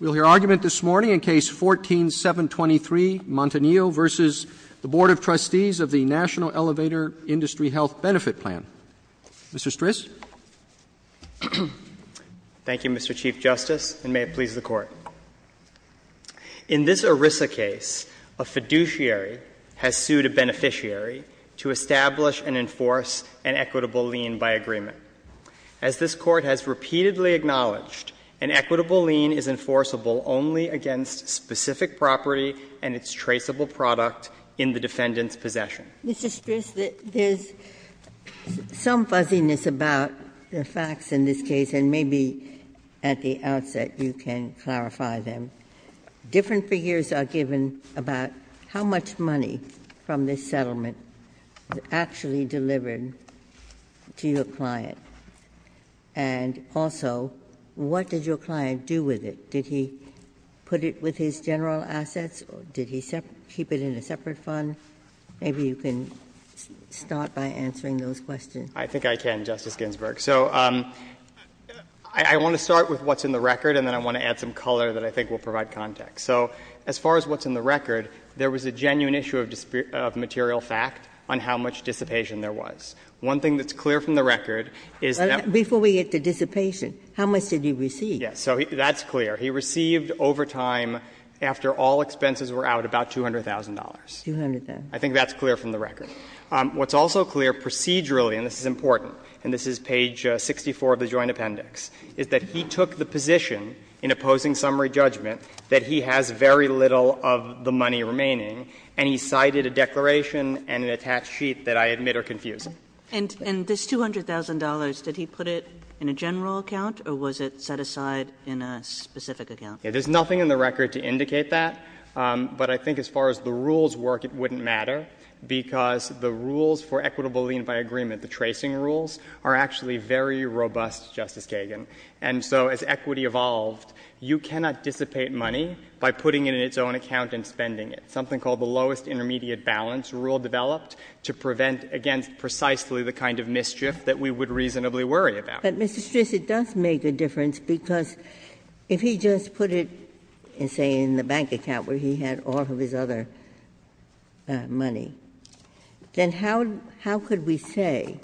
We'll hear argument this morning in Case 14-723, Montanile v. Board of Trustees of the National Elevator Industry Health Benefit Plan. Mr. Stris. Thank you, Mr. Chief Justice, and may it please the Court. In this ERISA case, a fiduciary has sued a beneficiary to establish and enforce an equitable lien by agreement. As this Court has repeatedly acknowledged, an equitable lien is enforceable only against specific property and its traceable product in the defendant's possession. Mr. Stris, there's some fuzziness about the facts in this case, and maybe at the outset you can clarify them. Different figures are given about how much money from this settlement was actually delivered to your client, and also, what did your client do with it? Did he put it with his general assets or did he keep it in a separate fund? Maybe you can start by answering those questions. Stris I think I can, Justice Ginsburg. So I want to start with what's in the record, and then I want to add some color that I think will provide context. So as far as what's in the record, there was a genuine issue of material fact on how much dissipation there was. One thing that's clear from the record is that — Before we get to dissipation, how much did he receive? Yes. So that's clear. He received over time, after all expenses were out, about $200,000. $200,000. I think that's clear from the record. What's also clear procedurally, and this is important, and this is page 64 of the Joint Appendix, is that he took the position in opposing summary judgment that he has very little of the money remaining, and he cited a declaration and an attached sheet that I admit are confusing. And this $200,000, did he put it in a general account or was it set aside in a specific account? There's nothing in the record to indicate that, but I think as far as the rules work, it wouldn't matter, because the rules for equitable lien by agreement, the tracing rules, are actually very robust, Justice Kagan. And so as equity evolved, you cannot dissipate money by putting it in its own account and spending it. Something called the lowest intermediate balance rule developed to prevent against precisely the kind of mischief that we would reasonably worry about. But, Mr. Stris, it does make a difference, because if he just put it, say, in the bank account where he had all of his other money, then how could we say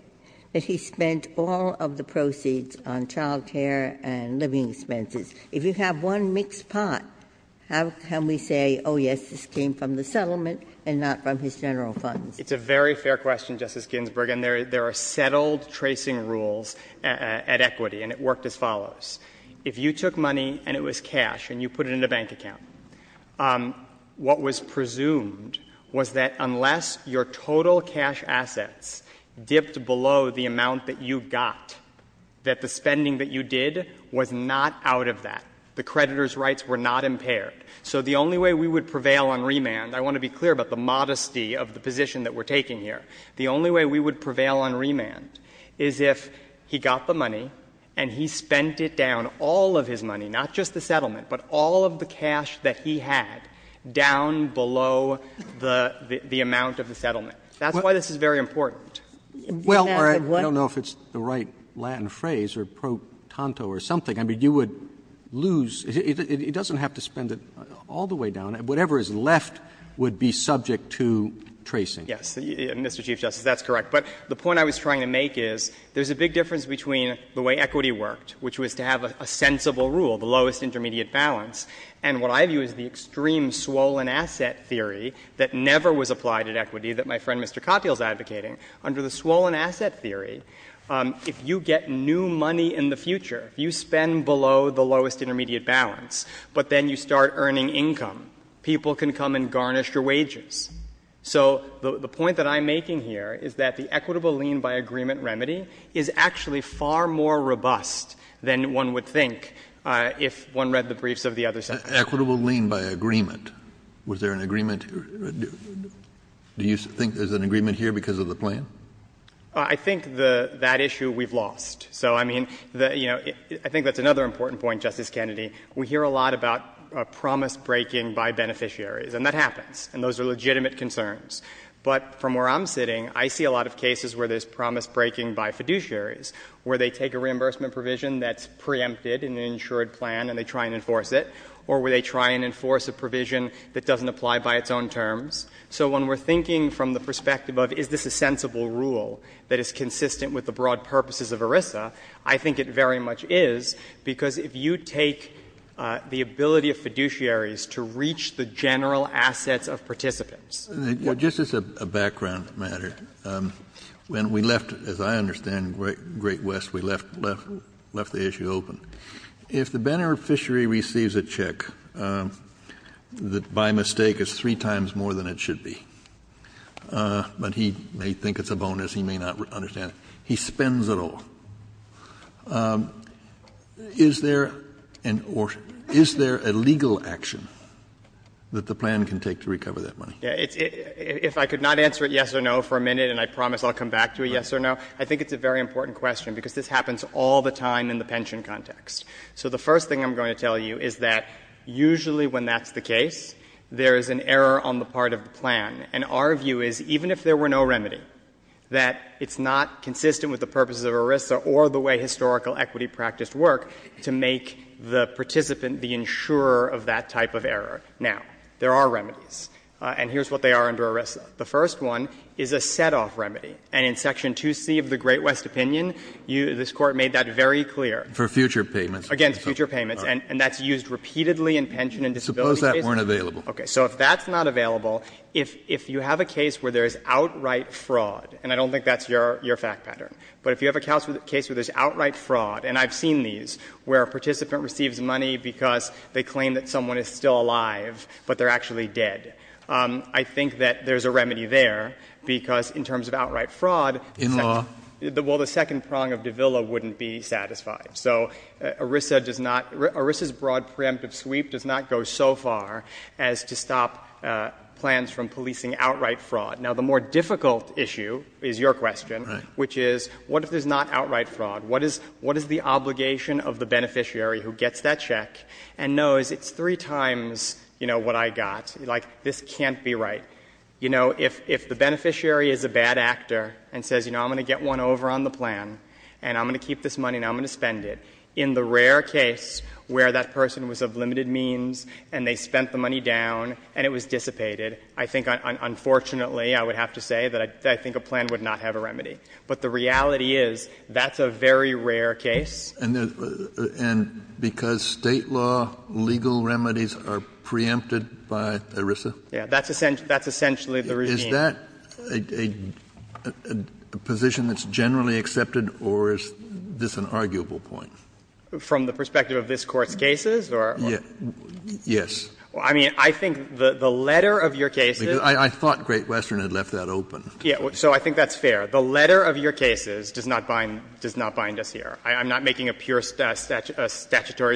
that he spent all of the proceeds on child care and living expenses? If you have one mixed pot, how can we say, oh, yes, this came from the settlement and not from his general funds? It's a very fair question, Justice Ginsburg. And there are settled tracing rules at equity, and it worked as follows. If you took money and it was cash and you put it in a bank account, what was presumed was that unless your total cash assets dipped below the amount that you got, that the spending that you did was not out of that, the creditor's rights were not impaired. So the only way we would prevail on remand, I want to be clear about the modesty of the position that we're taking here, the only way we would prevail on remand is if he got the money and he spent it down, all of his money, not just the settlement, but all of the cash that he had down below the amount of the settlement. That's why this is very important. Roberts. Well, I don't know if it's the right Latin phrase or pro tanto or something. I mean, you would lose — it doesn't have to spend it all the way down. Whatever is left would be subject to tracing. Yes. Mr. Chief Justice, that's correct. But the point I was trying to make is there's a big difference between the way equity worked, which was to have a sensible rule, the lowest intermediate balance, and what I view as the extreme swollen asset theory that never was applied at equity that my friend Mr. Cotfield is advocating. Under the swollen asset theory, if you get new money in the future, if you spend below the lowest intermediate balance, but then you start earning income, people can come and garnish your wages. So the point that I'm making here is that the equitable lien by agreement remedy is actually far more robust than one would think if one read the briefs of the other sectors. Equitable lien by agreement. Was there an agreement? Do you think there's an agreement here because of the plan? I think that issue we've lost. So, I mean, you know, I think that's another important point, Justice Kennedy. We hear a lot about promise breaking by beneficiaries. And that happens. And those are legitimate concerns. But from where I'm sitting, I see a lot of cases where there's promise breaking by fiduciaries, where they take a reimbursement provision that's preempted in an insured plan and they try and enforce it, or where they try and enforce a provision that doesn't apply by its own terms. So when we're thinking from the perspective of is this a sensible rule that is consistent with the broad purposes of ERISA, I think it very much is because if you take the ability of fiduciaries to reach the general assets of participants or just as a background matter, when we left, as I understand, Great West, we left the issue open. If the beneficiary receives a check that by mistake is three times more than it should be, but he may think it's a bonus, he may not understand it, he spends it all, is there a legal action that the plan can take to recover that money? If I could not answer a yes or no for a minute, and I promise I'll come back to a yes or no, I think it's a very important question, because this happens all the time in the pension context. So the first thing I'm going to tell you is that usually when that's the case, there is an error on the part of the plan. And our view is even if there were no remedy, that it's not consistent with the to make the participant the insurer of that type of error. Now, there are remedies. And here's what they are under arrest. The first one is a set-off remedy. And in Section 2C of the Great West opinion, this Court made that very clear. For future payments. Against future payments. And that's used repeatedly in pension and disability cases. Suppose that weren't available. Okay. So if that's not available, if you have a case where there's outright fraud, and I don't think that's your fact pattern, but if you have a case where there's outright fraud, and I've seen these, where a participant receives money because they claim that someone is still alive, but they're actually dead. I think that there's a remedy there, because in terms of outright fraud. In law. Well, the second prong of Davila wouldn't be satisfied. So ERISA does not, ERISA's broad preemptive sweep does not go so far as to stop plans from policing outright fraud. Now, the more difficult issue is your question. Right. Which is, what if there's not outright fraud? What is the obligation of the beneficiary who gets that check and knows it's three times, you know, what I got? Like, this can't be right. You know, if the beneficiary is a bad actor and says, you know, I'm going to get one over on the plan, and I'm going to keep this money, and I'm going to spend it, in the rare case where that person was of limited means, and they spent the money down, and it was dissipated, I think, unfortunately, I would have to say that I think a plan would not have a remedy. But the reality is that's a very rare case. And because State law legal remedies are preempted by ERISA? Yeah. That's essentially the regime. Is that a position that's generally accepted, or is this an arguable point? From the perspective of this Court's cases or? Yes. I mean, I think the letter of your cases. I thought Great Western had left that open. So I think that's fair. The letter of your cases does not bind us here. I'm not making a pure statutory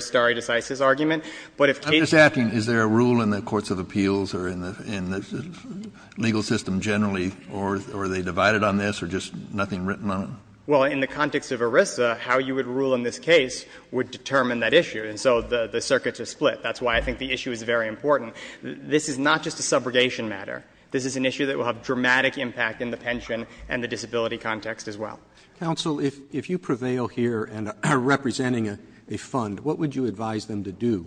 stare decisis argument. But if cases. I'm just asking, is there a rule in the courts of appeals or in the legal system generally, or are they divided on this, or just nothing written on it? Well, in the context of ERISA, how you would rule in this case would determine that issue. And so the circuits are split. That's why I think the issue is very important. This is not just a subrogation matter. This is an issue that will have dramatic impact in the pension and the disability context as well. Counsel, if you prevail here and are representing a fund, what would you advise them to do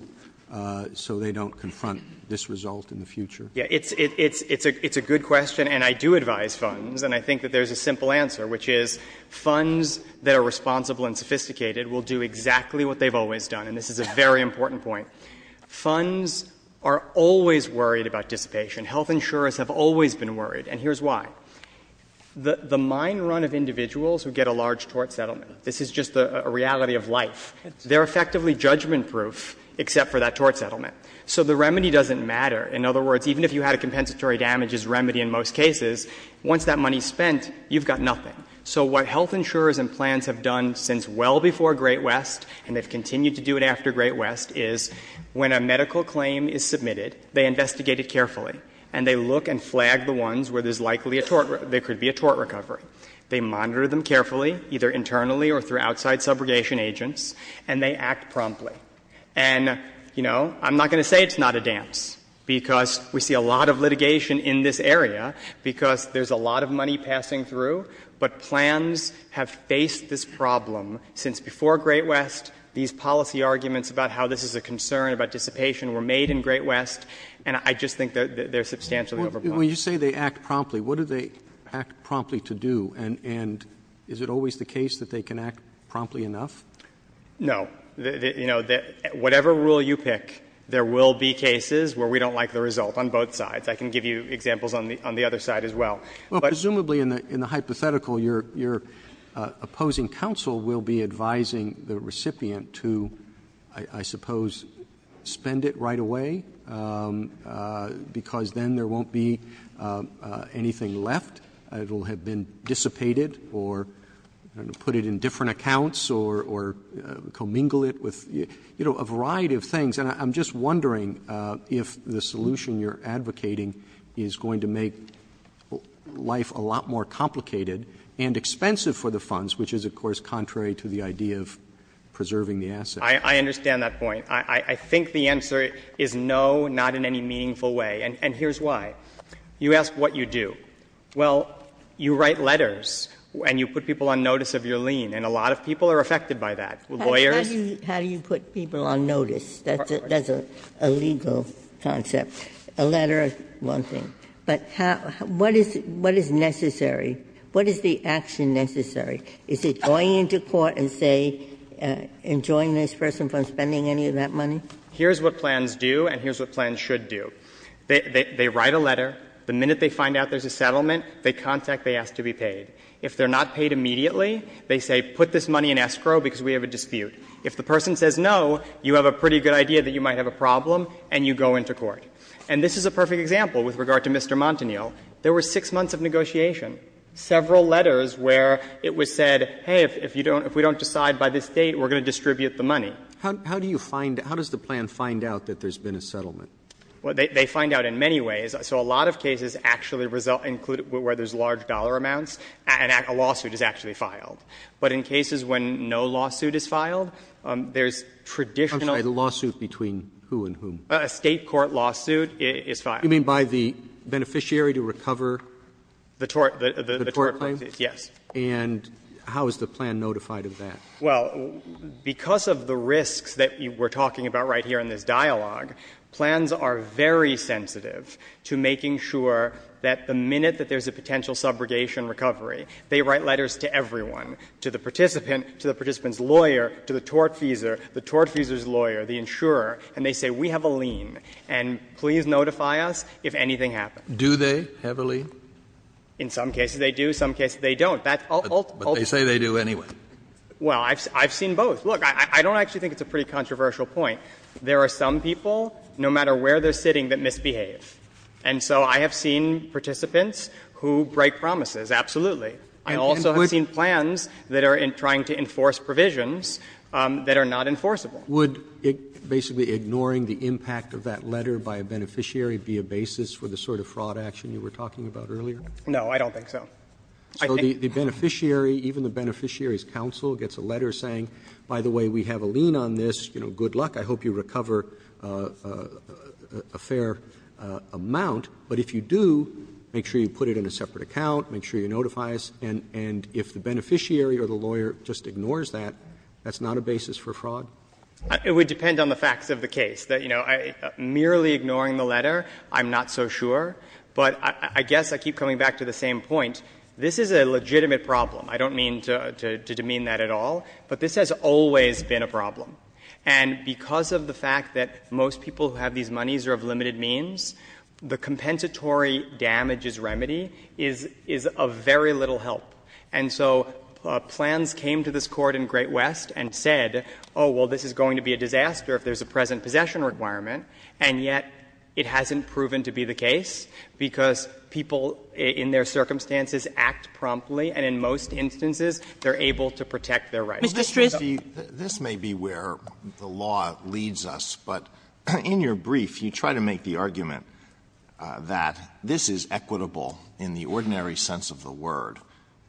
so they don't confront this result in the future? Yeah. It's a good question. And I do advise funds. And I think that there's a simple answer, which is funds that are responsible and sophisticated will do exactly what they've always done. And this is a very important point. Funds are always worried about dissipation. Health insurers have always been worried, and here's why. The mine run of individuals who get a large tort settlement, this is just a reality of life, they're effectively judgment-proof except for that tort settlement. So the remedy doesn't matter. In other words, even if you had a compensatory damages remedy in most cases, once that money is spent, you've got nothing. So what health insurers and plans have done since well before Great West, and they've continued to do it after Great West, is when a medical claim is submitted, they investigate it carefully, and they look and flag the ones where there's likely a tort — there could be a tort recovery. They monitor them carefully, either internally or through outside subrogation agents, and they act promptly. And, you know, I'm not going to say it's not a dance, because we see a lot of litigation in this area, because there's a lot of money passing through. But plans have faced this problem since before Great West. These policy arguments about how this is a concern about dissipation were made in Great West, and I just think they're substantially overblown. Roberts. When you say they act promptly, what do they act promptly to do? And is it always the case that they can act promptly enough? No. You know, whatever rule you pick, there will be cases where we don't like the result on both sides. I can give you examples on the other side as well. Well, presumably in the hypothetical, your opposing counsel will be advising the recipient to, I suppose, spend it right away, because then there won't be anything left. It will have been dissipated, or put it in different accounts, or commingle it with, you know, a variety of things. And I'm just wondering if the solution you're advocating is going to make life a lot more complicated and expensive for the funds, which is, of course, contrary to the idea of preserving the asset. I understand that point. I think the answer is no, not in any meaningful way, and here's why. You ask what you do. Well, you write letters and you put people on notice of your lien, and a lot of people are affected by that. Lawyers. How do you put people on notice? That's a legal concept. A letter is one thing. But what is necessary? What is the action necessary? Is it going into court and say, enjoin this person from spending any of that money? Here's what plans do and here's what plans should do. They write a letter. The minute they find out there's a settlement, they contact, they ask to be paid. If they're not paid immediately, they say put this money in escrow because we have a dispute. If the person says no, you have a pretty good idea that you might have a problem and you go into court. And this is a perfect example with regard to Mr. Montaniel. There were six months of negotiation, several letters where it was said, hey, if you don't, if we don't decide by this date, we're going to distribute the money. How do you find, how does the plan find out that there's been a settlement? Well, they find out in many ways. So a lot of cases actually result, include where there's large dollar amounts and a lawsuit is actually filed. But in cases when no lawsuit is filed, there's traditional. I'm sorry, the lawsuit between who and whom? A State court lawsuit is filed. You mean by the beneficiary to recover the tort claim? Yes. And how is the plan notified of that? Well, because of the risks that we're talking about right here in this dialogue, plans are very sensitive to making sure that the minute that there's a potential subrogation recovery, they write letters to everyone, to the participant, to the participant's lawyer, the insurer, and they say, we have a lien, and please notify us if anything happens. Do they have a lien? In some cases they do, some cases they don't. But they say they do anyway. Well, I've seen both. Look, I don't actually think it's a pretty controversial point. There are some people, no matter where they're sitting, that misbehave. And so I have seen participants who break promises, absolutely. I also have seen plans that are trying to enforce provisions that are not enforceable. Would basically ignoring the impact of that letter by a beneficiary be a basis for the sort of fraud action you were talking about earlier? No, I don't think so. So the beneficiary, even the beneficiary's counsel, gets a letter saying, by the way, we have a lien on this, you know, good luck, I hope you recover a fair amount. But if you do, make sure you put it in a separate account, make sure you notify us, and if the beneficiary or the lawyer just ignores that, that's not a basis for fraud? It would depend on the facts of the case. That, you know, merely ignoring the letter, I'm not so sure. But I guess I keep coming back to the same point. This is a legitimate problem. I don't mean to demean that at all. But this has always been a problem. And because of the fact that most people who have these monies are of limited means, the compensatory damages remedy is of very little help. And so plans came to this Court in Great West and said, oh, well, this is going to be a disaster if there's a present possession requirement, and yet it hasn't proven to be the case, because people in their circumstances act promptly, and in most instances they're able to protect their rights. Mr. Strist. This may be where the law leads us, but in your brief, you try to make the argument that this is equitable in the ordinary sense of the word,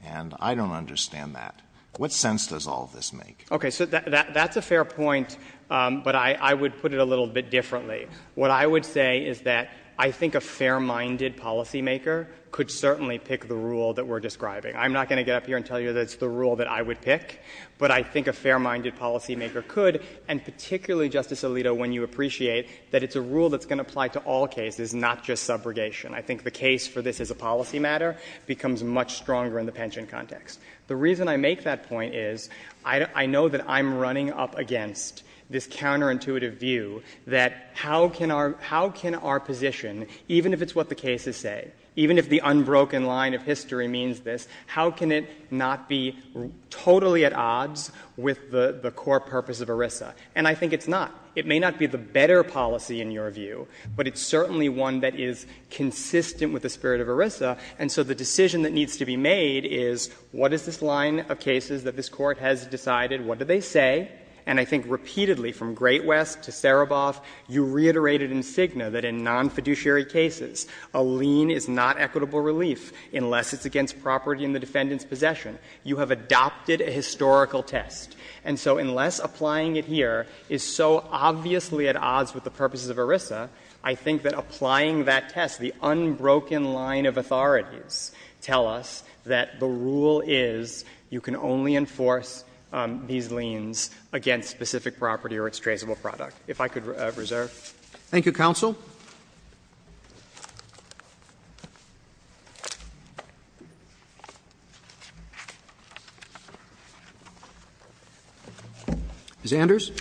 and I don't understand that. What sense does all of this make? Okay. So that's a fair point, but I would put it a little bit differently. What I would say is that I think a fair-minded policymaker could certainly pick the rule that we're describing. I'm not going to get up here and tell you that it's the rule that I would pick, but I think a fair-minded policymaker could. And particularly, Justice Alito, when you appreciate that it's a rule that's going to apply to all cases, not just subrogation, I think the case for this as a policy matter becomes much stronger in the pension context. The reason I make that point is I know that I'm running up against this counterintuitive view that how can our position, even if it's what the cases say, even if the unbroken line of history means this, how can it not be totally at odds with the core purpose of ERISA? And I think it's not. It may not be the better policy in your view, but it's certainly one that is consistent with the spirit of ERISA. And so the decision that needs to be made is what is this line of cases that this Court has decided, what do they say? And I think repeatedly from Great West to Sereboff, you reiterated in Cigna that in nonfiduciary cases a lien is not equitable relief unless it's against property in the defendant's possession. You have adopted a historical test. And so unless applying it here is so obviously at odds with the purposes of ERISA, I think that applying that test, the unbroken line of authorities tell us that the rule is you can only enforce these liens against specific property or its traceable product. If I could reserve. Thank you, counsel. Ms. Anders.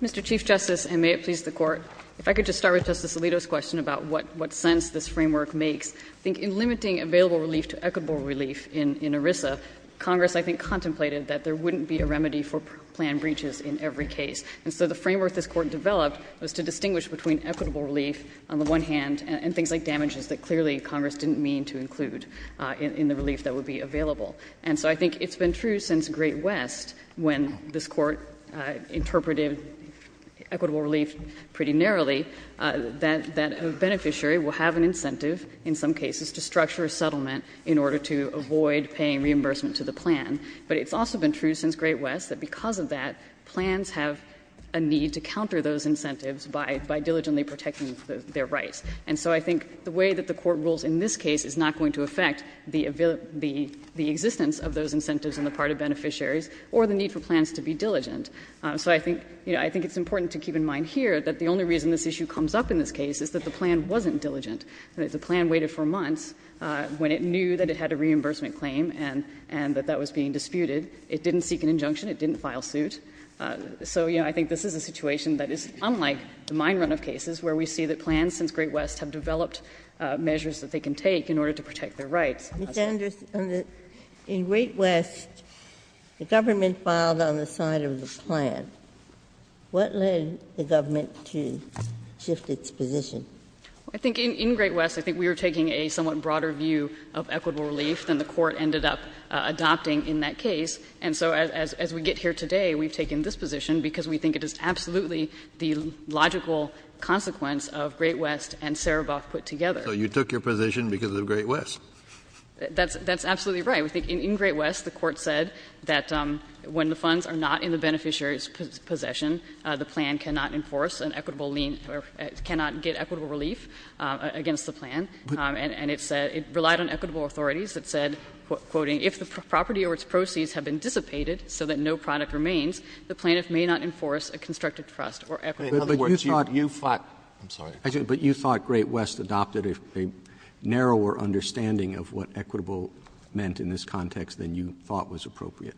Mr. Chief Justice, and may it please the Court, if I could just start with Justice Alito's question about what sense this framework makes. I think in limiting available relief to equitable relief in ERISA, Congress I think contemplated that there wouldn't be a remedy for planned breaches in every case. And so the framework this Court developed was to distinguish between equitable relief on the one hand and things like damages that clearly Congress didn't mean to include in the relief that would be available. And so I think it's been true since Great West when this Court interpreted equitable relief pretty narrowly, that a beneficiary will have an incentive in some cases to structure a settlement in order to avoid paying reimbursement to the plan. But it's also been true since Great West that because of that, plans have a need to counter those incentives by diligently protecting their rights. And so I think the way that the Court rules in this case is not going to affect the existence of those incentives on the part of beneficiaries or the need for plans to be diligent. So I think it's important to keep in mind here that the only reason this issue comes up in this case is that the plan wasn't diligent, that the plan waited for months when it knew that it had a reimbursement claim and that that was being disputed. It didn't seek an injunction. It didn't file suit. So, you know, I think this is a situation that is unlike the mine runoff cases, where we see that plans since Great West have developed measures that they can take in order to protect their rights. Ginsburg. Ginsburg. In Great West, the government filed on the side of the plan. What led the government to shift its position? I think in Great West, I think we were taking a somewhat broader view of equitable relief than the Court ended up adopting in that case. And so as we get here today, we've taken this position because we think it is absolutely the logical consequence of Great West and Sereboff put together. So you took your position because of Great West? That's absolutely right. I think in Great West, the Court said that when the funds are not in the beneficiary's possession, the plan cannot enforce an equitable lean or cannot get equitable relief against the plan. And it said it relied on equitable authorities. It said, quoting, If the property or its proceeds have been dissipated so that no product remains, the plaintiff may not enforce a constructed trust or equitable relief. Roberts. I'm sorry. But you thought Great West adopted a narrower understanding of what equitable meant in this context than you thought was appropriate?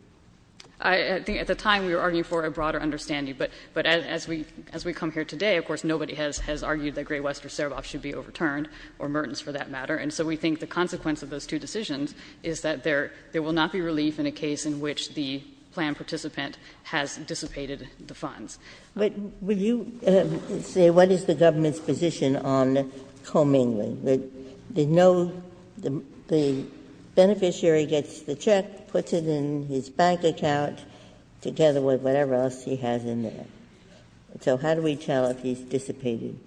I think at the time we were arguing for a broader understanding. But as we come here today, of course, nobody has argued that Great West or Sereboff should be overturned, or Mertens for that matter. And so we think the consequence of those two decisions is that there will not be relief in a case in which the plan participant has dissipated the funds. Ginsburg. But will you say what is the government's position on Coe-Mingling? The beneficiary gets the check, puts it in his bank account, together with whatever else he has in there. So how do we tell if he's dissipated?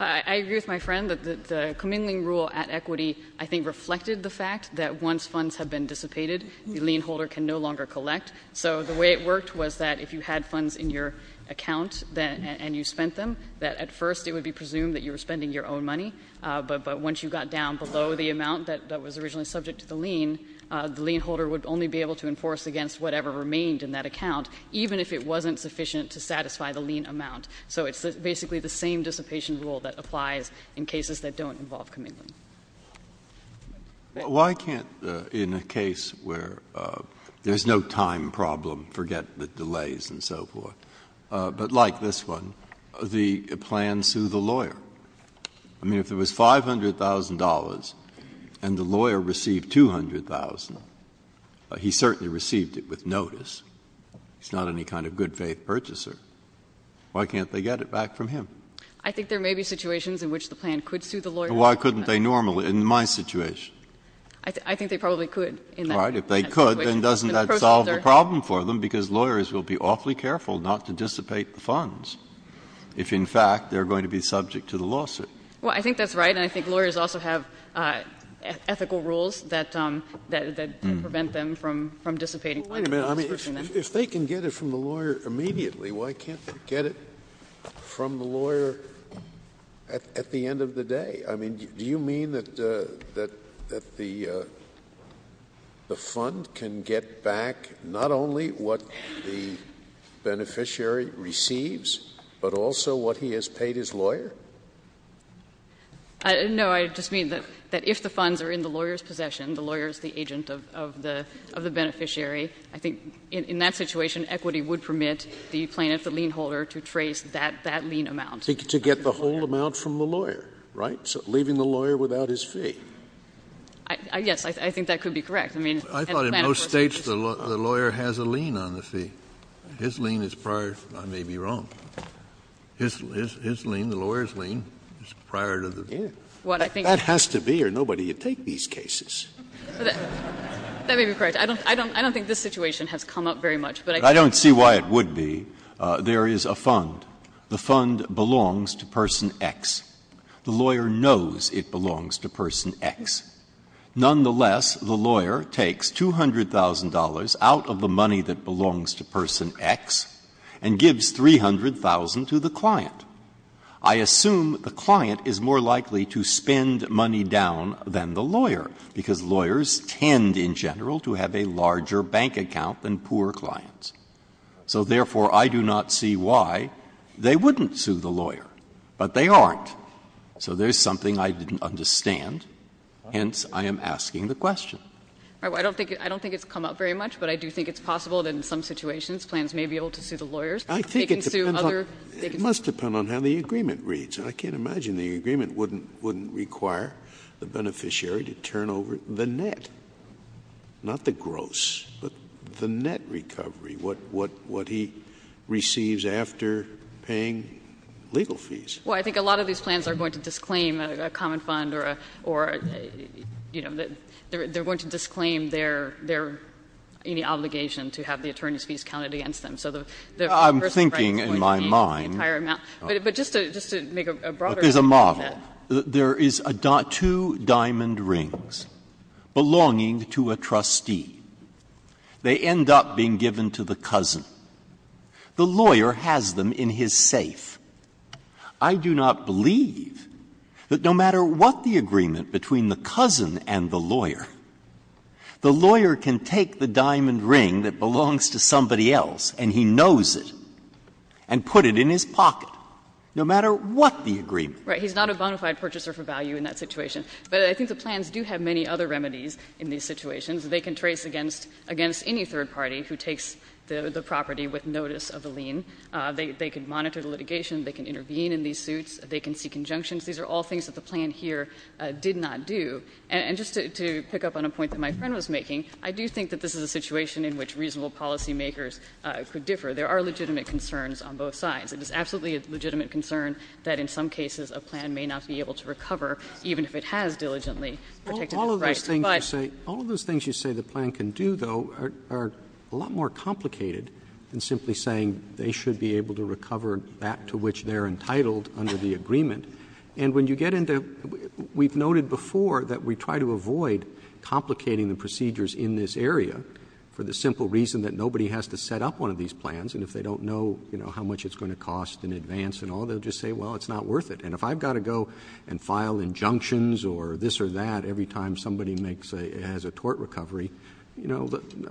I agree with my friend that the Coe-Mingling rule at Equity, I think, reflected the fact that once funds have been dissipated, the lien holder can no longer collect. So the way it worked was that if you had funds in your account and you spent them, that at first it would be presumed that you were spending your own money, but once you got down below the amount that was originally subject to the lien, the lien holder would only be able to enforce against whatever remained in that account, even if it wasn't sufficient to satisfy the lien amount. So it's basically the same dissipation rule that applies in cases that don't involve Coe-Mingling. Why can't, in a case where there's no time problem, forget the delays and so forth, but like this one, the plan sue the lawyer? I mean, if it was $500,000 and the lawyer received $200,000, he certainly received it with notice. He's not any kind of good faith purchaser. Why can't they get it back from him? I think there may be situations in which the plan could sue the lawyer. Why couldn't they normally, in my situation? I think they probably could in that situation. Right. If they could, then doesn't that solve the problem for them, because lawyers will have to be awfully careful not to dissipate the funds if, in fact, they're going to be subject to the lawsuit? Well, I think that's right, and I think lawyers also have ethical rules that prevent them from dissipating funds. Well, wait a minute. I mean, if they can get it from the lawyer immediately, why can't they get it from the lawyer at the end of the day? I mean, do you mean that the fund can get back not only what the beneficiary receives, but also what he has paid his lawyer? No. I just mean that if the funds are in the lawyer's possession, the lawyer is the agent of the beneficiary, I think in that situation, equity would permit the plaintiff, the lien holder, to trace that lien amount. To get the whole amount from the lawyer, right? Leaving the lawyer without his fee. Yes, I think that could be correct. I mean, and plan for it. I thought in most States, the lawyer has a lien on the fee. His lien is prior. I may be wrong. His lien, the lawyer's lien, is prior to the fee. That has to be, or nobody would take these cases. That may be correct. I don't think this situation has come up very much, but I can't say why. I don't see why it would be. There is a fund. The fund belongs to Person X. The lawyer knows it belongs to Person X. Nonetheless, the lawyer takes $200,000 out of the money that belongs to Person X and gives $300,000 to the client. I assume the client is more likely to spend money down than the lawyer, because lawyers tend in general to have a larger bank account than poor clients. So therefore, I do not see why they wouldn't sue the lawyer, but they aren't. So there is something I didn't understand, hence I am asking the question. I don't think it's come up very much, but I do think it's possible that in some situations, plans may be able to sue the lawyers. They can sue other. It must depend on how the agreement reads. I can't imagine the agreement wouldn't require the beneficiary to turn over the net, not the gross, but the net recovery, what he receives after paying legal fees. Well, I think a lot of these plans are going to disclaim a common fund or, you know, they're going to disclaim their obligation to have the attorney's fees counted against them. So the person's rights is going to be the entire amount. But just to make a broader argument. But there's a model. There is two diamond rings belonging to a trustee. They end up being given to the cousin. The lawyer has them in his safe. I do not believe that no matter what the agreement between the cousin and the lawyer, the lawyer can take the diamond ring that belongs to somebody else and he knows it and put it in his pocket, no matter what the agreement. Right. He's not a bona fide purchaser for value in that situation. But I think the plans do have many other remedies in these situations. They can trace against any third party who takes the property with notice of a lien. They can monitor the litigation. They can intervene in these suits. They can seek injunctions. These are all things that the plan here did not do. And just to pick up on a point that my friend was making, I do think that this is a situation in which reasonable policy makers could differ. There are legitimate concerns on both sides. It is absolutely a legitimate concern that in some cases a plan may not be able to recover, even if it has diligently protected the rights. But all of those things you say the plan can do, though, are a lot more complicated than simply saying they should be able to recover that to which they're entitled under the agreement. And when you get into, we've noted before that we try to avoid complicating the procedures in this area for the simple reason that nobody has to set up one of these plans. And if they don't know how much it's going to cost in advance and all, they'll just say, well, it's not worth it. And if I've got to go and file injunctions or this or that every time somebody has a tort recovery, I'm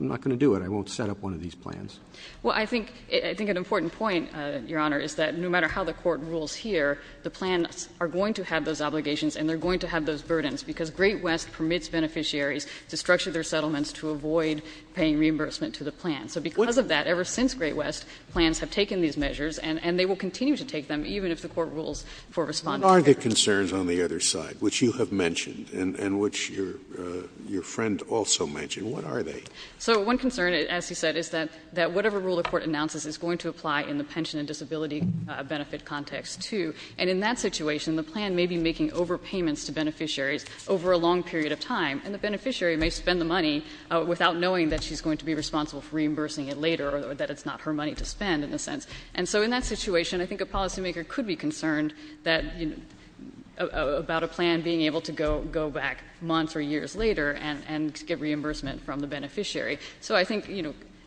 not going to do it. I won't set up one of these plans. Well, I think an important point, Your Honor, is that no matter how the court rules here, the plans are going to have those obligations and they're going to have those burdens because Great West permits beneficiaries to structure their settlements to avoid paying reimbursement to the plan. So because of that, ever since Great West, plans have taken these measures and they will continue to take them, even if the court rules for responding. What are the concerns on the other side, which you have mentioned and which your friend also mentioned? What are they? So one concern, as he said, is that whatever rule the court announces is going to apply in the pension and disability benefit context, too. And in that situation, the plan may be making overpayments to beneficiaries over a long period of time, and the beneficiary may spend the money without knowing that she's going to be responsible for reimbursing it later, or that it's not her money to spend, in a sense. And so in that situation, I think a policy maker could be concerned about a plan being able to go back months or years and be a beneficiary, so I think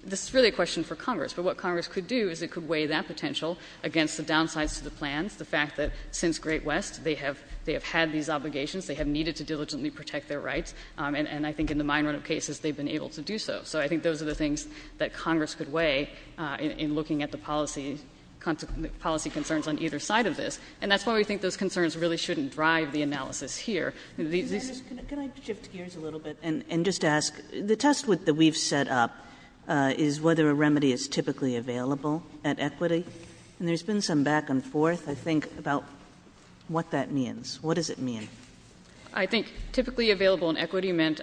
this is really a question for Congress. But what Congress could do is it could weigh that potential against the downsides to the plans, the fact that since Great West, they have had these obligations, they have needed to diligently protect their rights. And I think in the minority of cases, they've been able to do so. So I think those are the things that Congress could weigh in looking at the policy concerns on either side of this. And that's why we think those concerns really shouldn't drive the analysis here. This- Can I shift gears a little bit and just ask, the test that we've set up is whether a remedy is typically available at equity. And there's been some back and forth, I think, about what that means. What does it mean? I think typically available in equity meant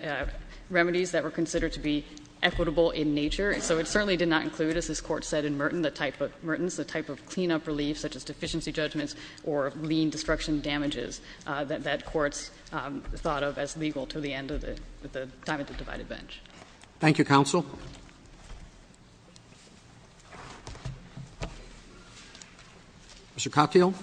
remedies that were considered to be equitable in nature. So it certainly did not include, as this court said in Merton, the type of clean up relief, such as deficiency judgments or lean destruction damages that that court's thought of as legal to the end of the time at the divided bench. Thank you, counsel. Mr. Cockeill.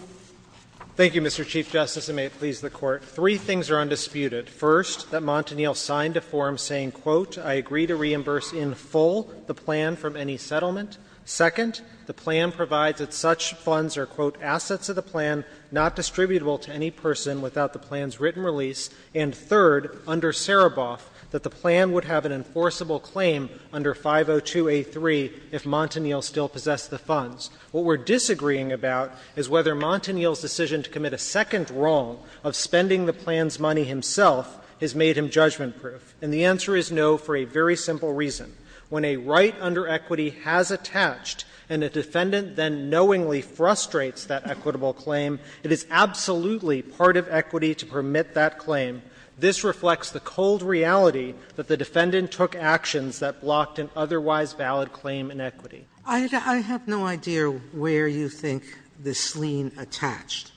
Thank you, Mr. Chief Justice, and may it please the court. Three things are undisputed. First, that Montanil signed a form saying, quote, I agree to reimburse in full the plan from any settlement. Second, the plan provides that such funds are, quote, assets of the plan, not distributable to any person without the plan's written release. And third, under Sereboff, that the plan would have an enforceable claim under 502A3 if Montanil still possessed the funds. What we're disagreeing about is whether Montanil's decision to commit a second wrong of spending the plan's money himself has made him judgment proof. And the answer is no for a very simple reason. When a right under equity has attached, and a defendant then knowingly frustrates that equitable claim, it is absolutely part of equity to permit that claim. This reflects the cold reality that the defendant took actions that blocked an otherwise valid claim in equity. I have no idea where you think this lien attached.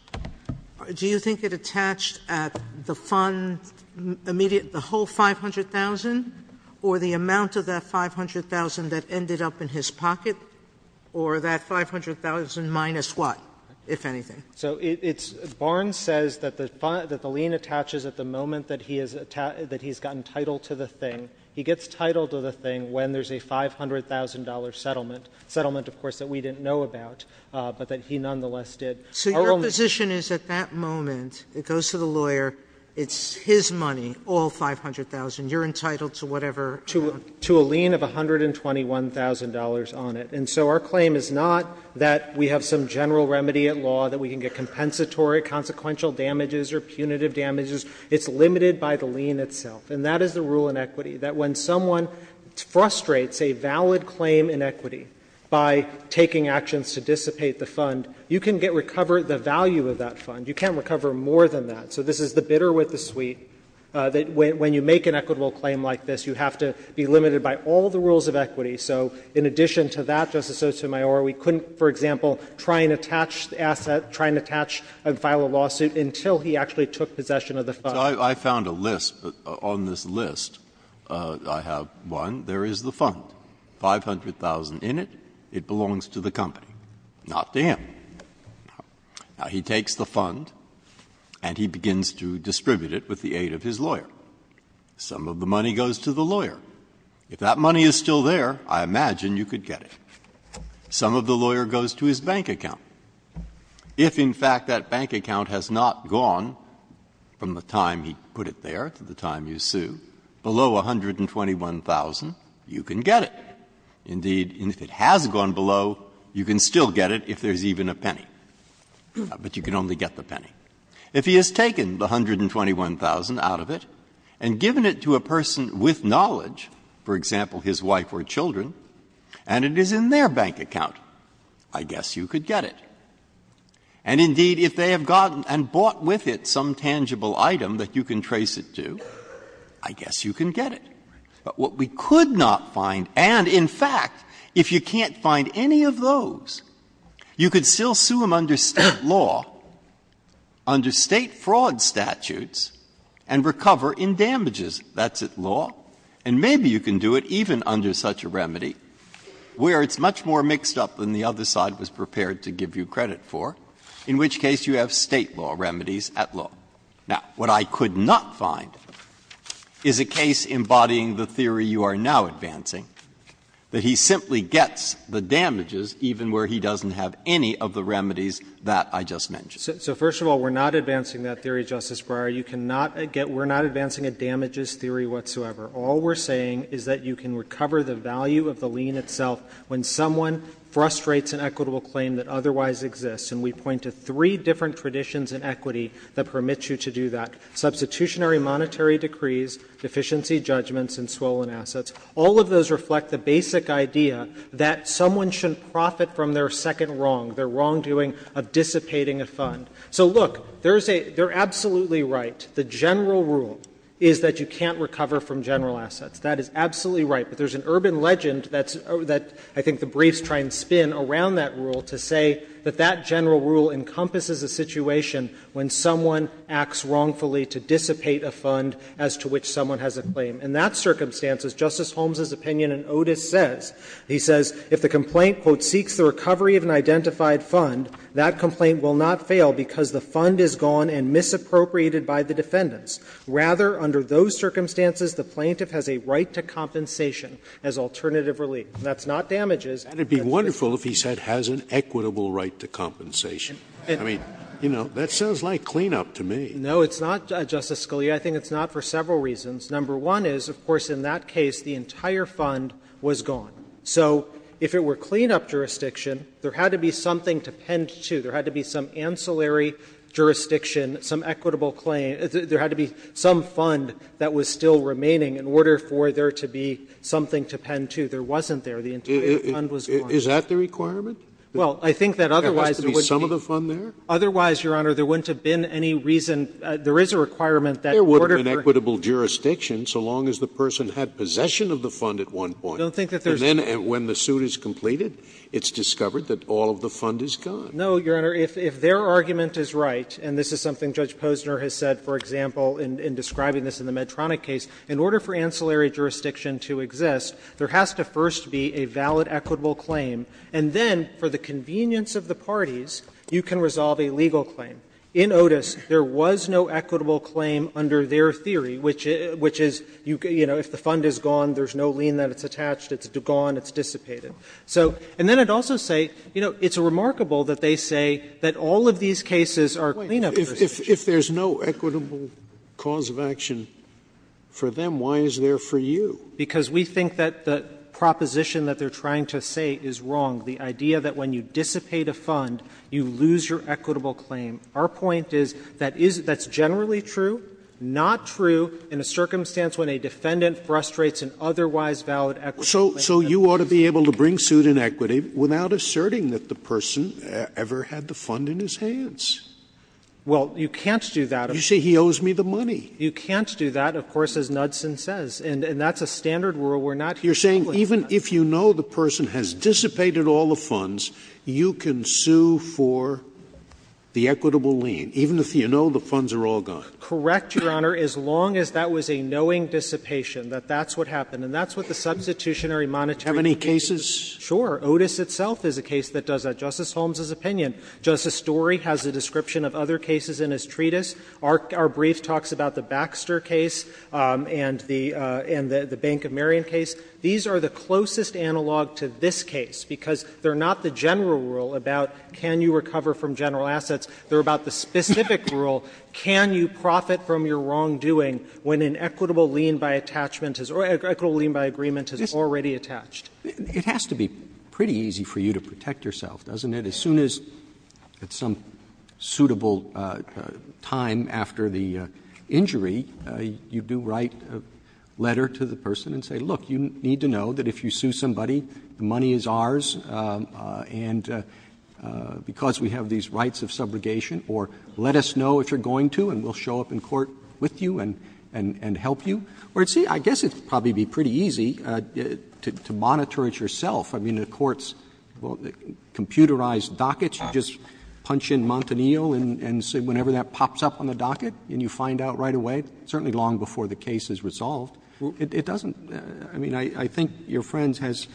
Do you think it attached at the fund, the whole 500,000? Or the amount of that 500,000 that ended up in his pocket? Or that 500,000 minus what, if anything? So it's, Barnes says that the lien attaches at the moment that he's got entitled to the thing. He gets titled to the thing when there's a $500,000 settlement. Settlement, of course, that we didn't know about, but that he nonetheless did. So your position is at that moment, it goes to the lawyer, it's his money, all 500,000. You're entitled to whatever. To a lien of $121,000 on it. And so our claim is not that we have some general remedy at law that we can get compensatory, consequential damages, or punitive damages. It's limited by the lien itself. And that is the rule in equity, that when someone frustrates a valid claim in equity by taking actions to dissipate the fund, you can get recovered the value of that fund. You can't recover more than that. So this is the bidder with the suite, that when you make an equitable claim like this, you have to be limited by all the rules of equity. So in addition to that, Justice Sotomayor, we couldn't, for example, try and attach the asset, try and attach and file a lawsuit until he actually took possession of the fund. Breyer. I found a list, on this list, I have, one, there is the fund, 500,000 in it, it belongs to the company, not to him. Now, he takes the fund and he begins to distribute it with the aid of his lawyer. Some of the money goes to the lawyer. If that money is still there, I imagine you could get it. Some of the lawyer goes to his bank account. If, in fact, that bank account has not gone from the time he put it there to the time you sue, below 121,000, you can get it. Indeed, if it has gone below, you can still get it if there is even a penny. But you can only get the penny. If he has taken the 121,000 out of it and given it to a person with knowledge, for example, his wife or children, and it is in their bank account, I guess you could get it. And indeed, if they have gotten and bought with it some tangible item that you can trace it to, I guess you can get it. But what we could not find, and in fact, if you can't find any of those, you could still sue them under State law, under State fraud statutes, and recover in damages. That's at law. And maybe you can do it even under such a remedy where it's much more mixed up than the other side was prepared to give you credit for, in which case you have State law remedies at law. Now, what I could not find is a case embodying the theory you are now advancing, that he simply gets the damages even where he doesn't have any of the remedies that I just mentioned. So first of all, we are not advancing that theory, Justice Breyer. You cannot get — we are not advancing a damages theory whatsoever. All we are saying is that you can recover the value of the lien itself when someone frustrates an equitable claim that otherwise exists, and we point to three different traditions in equity that permit you to do that. Substitutionary monetary decrees, deficiency judgments, and swollen assets. All of those reflect the basic idea that someone shouldn't profit from their second wrong, their wrongdoing of dissipating a fund. So, look, there is a — they are absolutely right. The general rule is that you can't recover from general assets. That is absolutely right. But there is an urban legend that's — that I think the briefs try and spin around that rule to say that that general rule encompasses a situation when someone acts wrongfully to dissipate a fund as to which someone has a claim. In that circumstance, as Justice Holmes' opinion and Otis says, he says, if the complaint, quote, "'seeks the recovery of an identified fund,' that complaint will not fail because the fund is gone and misappropriated by the defendants. Rather, under those circumstances, the plaintiff has a right to compensation as alternative relief.'" That's not damages. Scalia, I think it's not for several reasons. Number one is, of course, in that case, the entire fund was gone. So if it were cleanup jurisdiction, there had to be something to pend to. There had to be some ancillary jurisdiction, some equitable claim. There had to be some fund that was still remaining in order for there to be something to pend to. The entire fund was gone. The entire fund was gone. Is that the requirement? Well, I think that otherwise there wouldn't be. There has to be some of the fund there? Otherwise, Your Honor, there wouldn't have been any reason. There is a requirement that in order for. There would have been equitable jurisdiction so long as the person had possession of the fund at one point. I don't think that there's. And then when the suit is completed, it's discovered that all of the fund is gone. No, Your Honor. If their argument is right, and this is something Judge Posner has said, for example, in describing this in the Medtronic case, in order for ancillary jurisdiction to exist, there has to first be a valid equitable claim, and then, for the convenience of the parties, you can resolve a legal claim. In Otis, there was no equitable claim under their theory, which is, you know, if the fund is gone, there's no lien that it's attached, it's gone, it's dissipated. So and then I'd also say, you know, it's remarkable that they say that all of these cases are clean-up investigations. If there's no equitable cause of action for them, why is there for you? Because we think that the proposition that they're trying to say is wrong, the idea that when you dissipate a fund, you lose your equitable claim. Our point is that is that's generally true, not true in a circumstance when a defendant frustrates an otherwise valid equitable claim. So you ought to be able to bring suit in equity without asserting that the person ever had the fund in his hands. Well, you can't do that. You say he owes me the money. You can't do that, of course, as Knudson says. And that's a standard rule. We're not here to complain about that. You're saying even if you know the person has dissipated all the funds, you can sue for the equitable lien, even if you know the funds are all gone? Correct, Your Honor, as long as that was a knowing dissipation, that that's what happened. And that's what the Substitutionary Monetary Treaty is. Do you have any cases? Sure. Otis itself is a case that does that, Justice Holmes's opinion. Justice Story has a description of other cases in his treatise. Our brief talks about the Baxter case and the Bank of Marion case. These are the closest analog to this case, because they're not the general rule about can you recover from general assets. They're about the specific rule, can you profit from your wrongdoing when an equitable lien by attachment is or an equitable lien by agreement is already attached. It has to be pretty easy for you to protect yourself, doesn't it, as soon as at some time after the injury you do write a letter to the person and say, look, you need to know that if you sue somebody, the money is ours, and because we have these rights of subrogation, or let us know if you're going to, and we'll show up in court with you and help you? Or, see, I guess it would probably be pretty easy to monitor it yourself. I mean, the court's computerized dockets, you just punch in Montanil and say whenever that pops up on the docket, and you find out right away, certainly long before the case is resolved, it doesn't, I mean, I think your friend has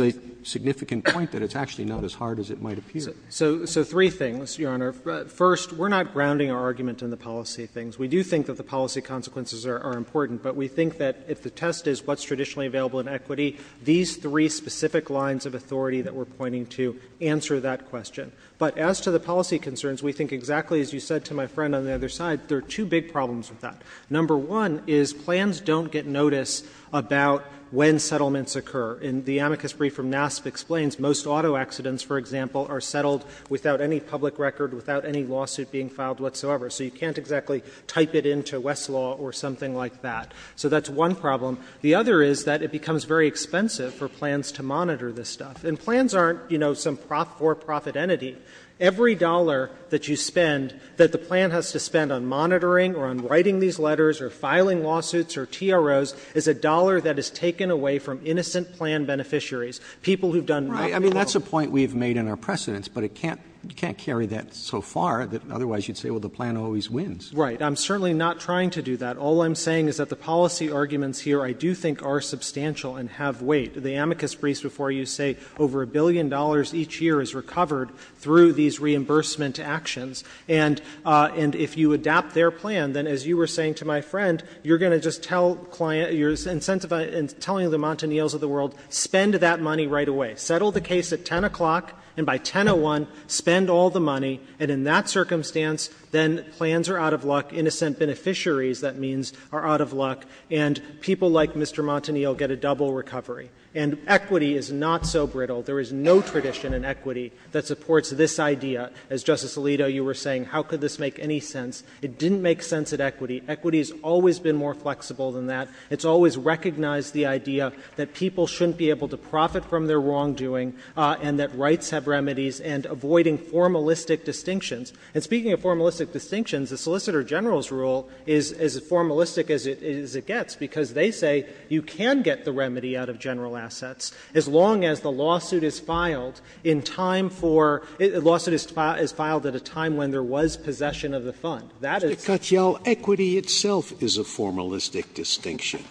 a significant point that it's actually not as hard as it might appear. So three things, Your Honor. First, we're not grounding our argument in the policy things. We do think that the policy consequences are important, but we think that if the test is what's traditionally available in equity, these three specific lines of authority that we're pointing to answer that question. But as to the policy concerns, we think exactly as you said to my friend on the other side, there are two big problems with that. Number one is plans don't get notice about when settlements occur. In the amicus brief from NASP explains most auto accidents, for example, are settled without any public record, without any lawsuit being filed whatsoever, so you can't exactly type it into Westlaw or something like that. So that's one problem. The other is that it becomes very expensive for plans to monitor this stuff. And plans aren't, you know, some for-profit entity. Every dollar that you spend that the plan has to spend on monitoring or on writing these letters or filing lawsuits or TROs is a dollar that is taken away from innocent plan beneficiaries, people who've done nothing at all. Right. I mean, that's a point we've made in our precedents, but it can't, you can't carry that so far that otherwise you'd say, well, the plan always wins. Right. I'm certainly not trying to do that. All I'm saying is that the policy arguments here I do think are substantial and have weight. The amicus briefs before you say over a billion dollars each year is recovered through these reimbursement actions. And if you adapt their plan, then as you were saying to my friend, you're going to just tell client, you're incentivizing, telling the Montaniels of the world, spend that money right away. Settle the case at 10 o'clock, and by 1001, spend all the money, and in that circumstance, then plans are out of luck, innocent beneficiaries, that means, are out of luck, and people like Mr. Montaniel get a double recovery. And equity is not so brittle. There is no tradition in equity that supports this idea. As Justice Alito, you were saying, how could this make any sense? It didn't make sense at equity. Equity has always been more flexible than that. It's always recognized the idea that people shouldn't be able to profit from their wrongdoing, and that rights have remedies, and avoiding formalistic distinctions. And speaking of formalistic distinctions, the Solicitor General's rule is as formalistic as it gets, because they say you can get the remedy out of general assets, as long as the lawsuit is filed in time for — the lawsuit is filed at a time when there was possession of the fund. That is— Scalia, equity itself is a formalistic distinction.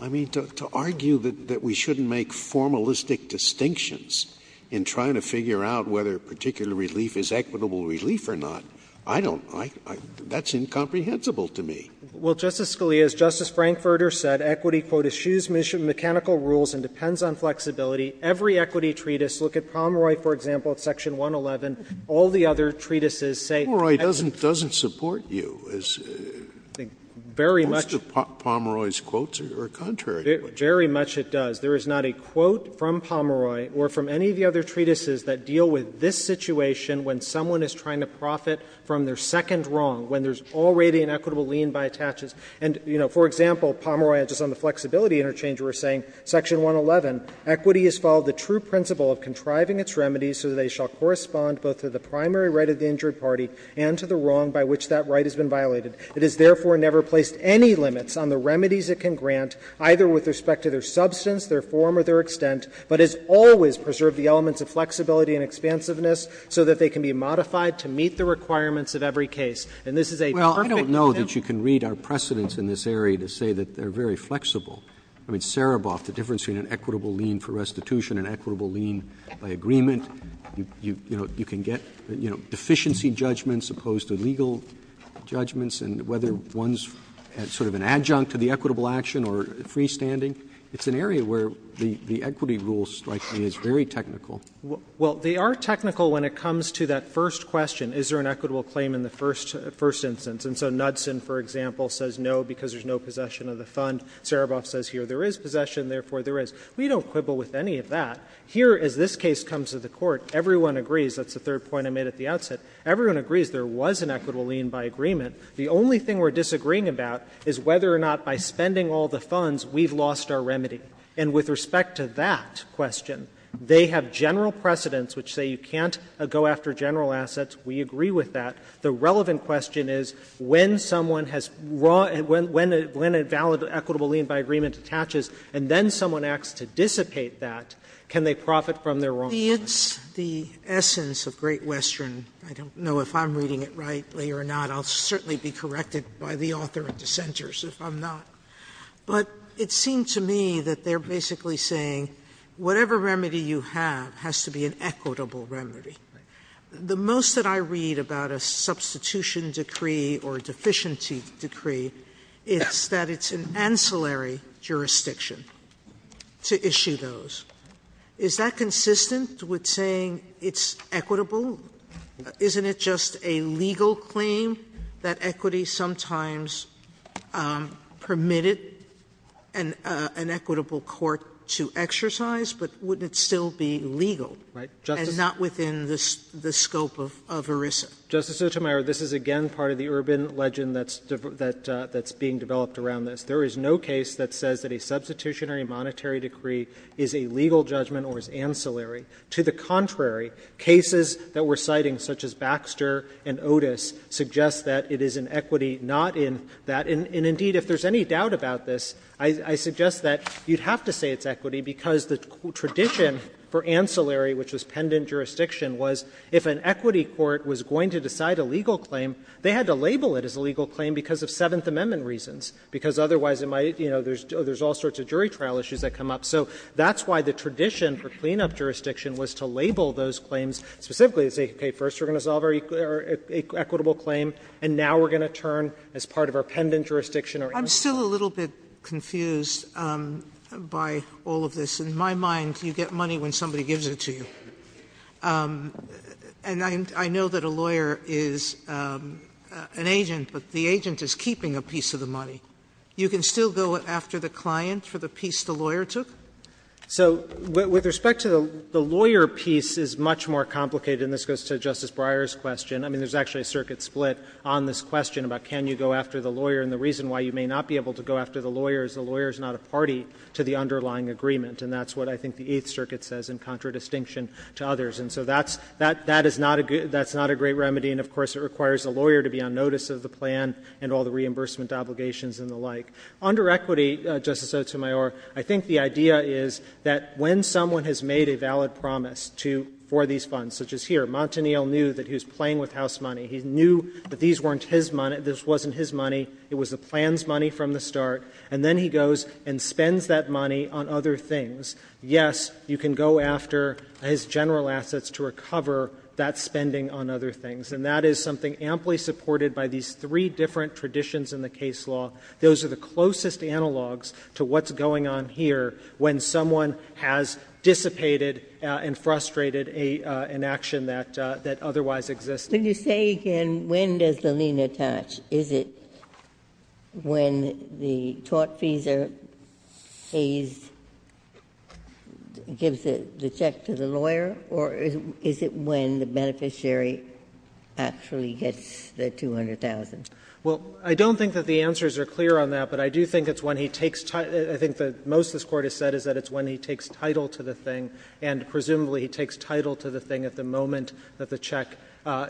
I mean, to argue that we shouldn't make formalistic distinctions in trying to figure out whether a particular relief is equitable relief or not, I don't — that's incomprehensible to me. Well, Justice Scalia, as Justice Frankfurter said, equity, quote, "... eschews mechanical rules and depends on flexibility. Every equity treatise — look at Pomeroy, for example, at Section 111 — all the other treatises say — Pomeroy doesn't support you. Very much — Most of Pomeroy's quotes are contrary. Very much it does. There is not a quote from Pomeroy or from any of the other treatises that deal with this situation, when someone is trying to profit from their second wrong, when there's already an equitable lien by attaches. And, you know, for example, Pomeroy, just on the flexibility interchange, were saying, Section 111, "... equity has followed the true principle of contriving its remedies so that they shall correspond both to the primary right of the injured party and to the wrong by which that right has been violated. It has therefore never placed any limits on the remedies it can grant, either with respect to their substance, their form, or their extent, but has always preserved the elements of flexibility and expansiveness so that they can be modified to meet the requirements of every case." And this is a perfect example — Well, I don't know that you can read our precedents in this area to say that they're very flexible. I mean, Sereboff, the difference between an equitable lien for restitution and equitable lien by agreement, you know, you can get, you know, deficiency judgments opposed to legal judgments, and whether one's sort of an adjunct to the equitable action or freestanding. It's an area where the equity rule, strikingly, is very technical. It's a very technical claim in the first instance. And so Knudsen, for example, says no because there's no possession of the fund. Sereboff says here there is possession, therefore there is. We don't quibble with any of that. Here as this case comes to the Court, everyone agrees — that's the third point I made at the outset — everyone agrees there was an equitable lien by agreement. The only thing we're disagreeing about is whether or not by spending all the funds we've lost our remedy. And with respect to that question, they have general precedents which say you can't go after general assets. We agree with that. The relevant question is when someone has raw — when a valid equitable lien by agreement attaches and then someone acts to dissipate that, can they profit from their wrong judgment? Sotomayor, I don't know if I'm reading it rightly or not. I'll certainly be corrected by the author and dissenters if I'm not. But it seemed to me that they're basically saying whatever remedy you have has to be an equitable remedy. The most that I read about a substitution decree or a deficiency decree is that it's an ancillary jurisdiction to issue those. Is that consistent with saying it's equitable? Isn't it just a legal claim that equity sometimes permitted an equitable court to exercise? But wouldn't it still be legal? And not within the scope of ERISA? Justice Sotomayor, this is, again, part of the urban legend that's being developed around this. There is no case that says that a substitutionary monetary decree is a legal judgment or is ancillary. To the contrary, cases that we're citing such as Baxter and Otis suggest that it is an equity not in that. And, indeed, if there's any doubt about this, I suggest that you'd have to say it's ancillary, which is pendant jurisdiction, was if an equity court was going to decide a legal claim, they had to label it as a legal claim because of Seventh Amendment reasons, because otherwise it might, you know, there's all sorts of jury trial issues that come up. So that's why the tradition for cleanup jurisdiction was to label those claims specifically to say, okay, first we're going to solve our equitable claim, and now we're going to turn as part of our pendant jurisdiction or ancillary. Sotomayor, I'm still a little bit confused by all of this. In my mind, you get money when somebody gives it to you. And I know that a lawyer is an agent, but the agent is keeping a piece of the money. You can still go after the client for the piece the lawyer took? So with respect to the lawyer piece, it's much more complicated, and this goes to Justice Breyer's question. I mean, there's actually a circuit split on this question about can you go after the lawyer. And the reason why you may not be able to go after the lawyer is the lawyer is not a party to the underlying agreement. And that's what I think the Eighth Circuit says in contradistinction to others. And so that's not a great remedy. And of course, it requires the lawyer to be on notice of the plan and all the reimbursement obligations and the like. Under equity, Justice Sotomayor, I think the idea is that when someone has made a valid promise for these funds, such as here, Montanil knew that he was playing with house money. He knew that this wasn't his money, it was the plan's money from the start, and then he goes and spends that money on other things. Yes, you can go after his general assets to recover that spending on other things. And that is something amply supported by these three different traditions in the case law. Those are the closest analogs to what's going on here when someone has dissipated and frustrated an action that otherwise existed. Ginsburg-McCarthy When you say, again, when does the lien attach, is it when the tortfeasor pays, gives the check to the lawyer, or is it when the beneficiary actually gets the $200,000? Katyal Well, I don't think that the answers are clear on that, but I do think it's when he takes ti- I think that most of what this Court has said is that it's when he takes title to the thing, and presumably he takes title to the thing at the moment that the check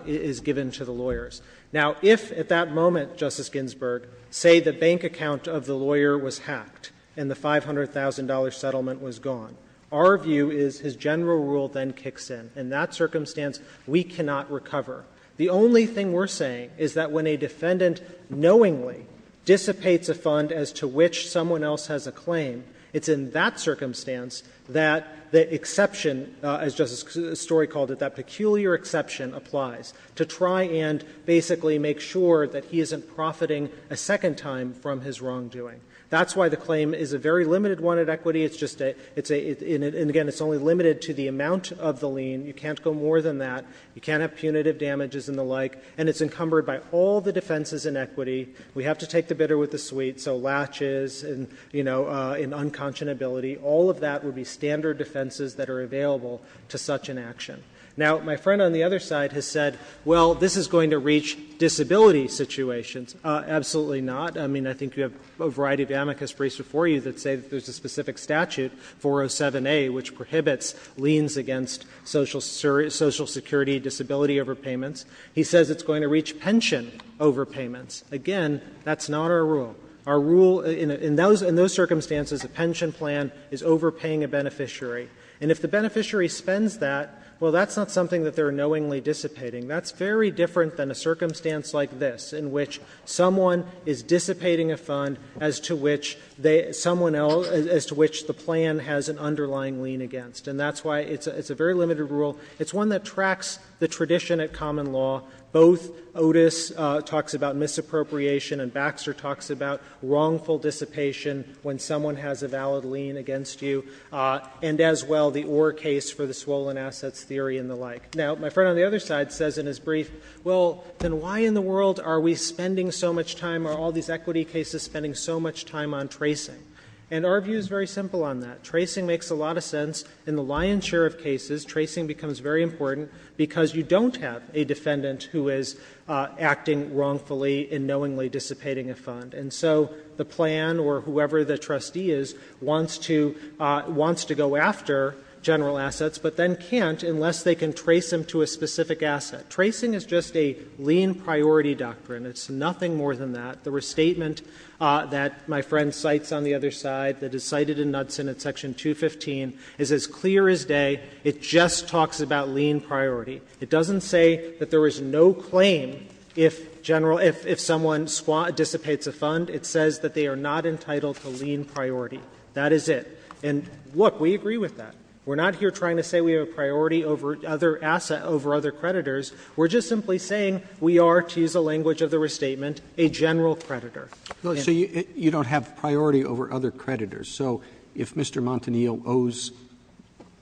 is given to the lawyers. Now, if at that moment, Justice Ginsburg, say the bank account of the lawyer was hacked and the $500,000 settlement was gone, our view is his general rule then kicks in. In that circumstance, we cannot recover. The only thing we're saying is that when a defendant knowingly dissipates a fund as to which someone else has a claim, it's in that circumstance that the exception, as Justice Story called it, that peculiar exception applies, to try and basically make sure that he isn't profiting a second time from his wrongdoing. That's why the claim is a very limited one at equity. It's just a — it's a — and again, it's only limited to the amount of the lien. You can't go more than that. You can't have punitive damages and the like. And it's encumbered by all the defenses in equity. We have to take the bitter with the sweet. So latches and, you know, and unconscionability, all of that would be standard defenses that are available to such an action. Now, my friend on the other side has said, well, this is going to reach disability situations. Absolutely not. I mean, I think you have a variety of amicus briefs before you that say that there's a specific statute, 407A, which prohibits liens against Social Security disability overpayments. He says it's going to reach pension overpayments. Again, that's not our rule. Our rule in those circumstances, a pension plan is overpaying a beneficiary. And if the beneficiary spends that, well, that's not something that they're knowingly dissipating. That's very different than a circumstance like this, in which someone is dissipating a fund as to which they — someone else — as to which the plan has an underlying lien against. And that's why it's a very limited rule. It's one that tracks the tradition at common law. Both Otis talks about misappropriation, and Baxter talks about wrongful dissipation when someone has a valid lien against you, and as well, the Orr case for the swollen assets theory and the like. Now, my friend on the other side says in his brief, well, then why in the world are we spending so much time — are all these equity cases spending so much time on tracing? And our view is very simple on that. Tracing makes a lot of sense. In the Lyon-Sheriff cases, tracing becomes very important because you don't have a defendant who is acting wrongfully and knowingly dissipating a fund. And so the plan or whoever the trustee is wants to — wants to go after general assets, but then can't unless they can trace them to a specific asset. Tracing is just a lien priority doctrine. It's nothing more than that. The restatement that my friend cites on the other side, that is cited in Knudsen at Section 215, is as clear as day. It just talks about lien priority. It doesn't say that there is no claim if general — if someone dissipates a fund. It says that they are not entitled to lien priority. That is it. And, look, we agree with that. We're not here trying to say we have a priority over other — asset over other creditors. We're just simply saying we are, to use the language of the restatement, a general creditor. Roberts. So you don't have priority over other creditors. So if Mr. Montanillo owes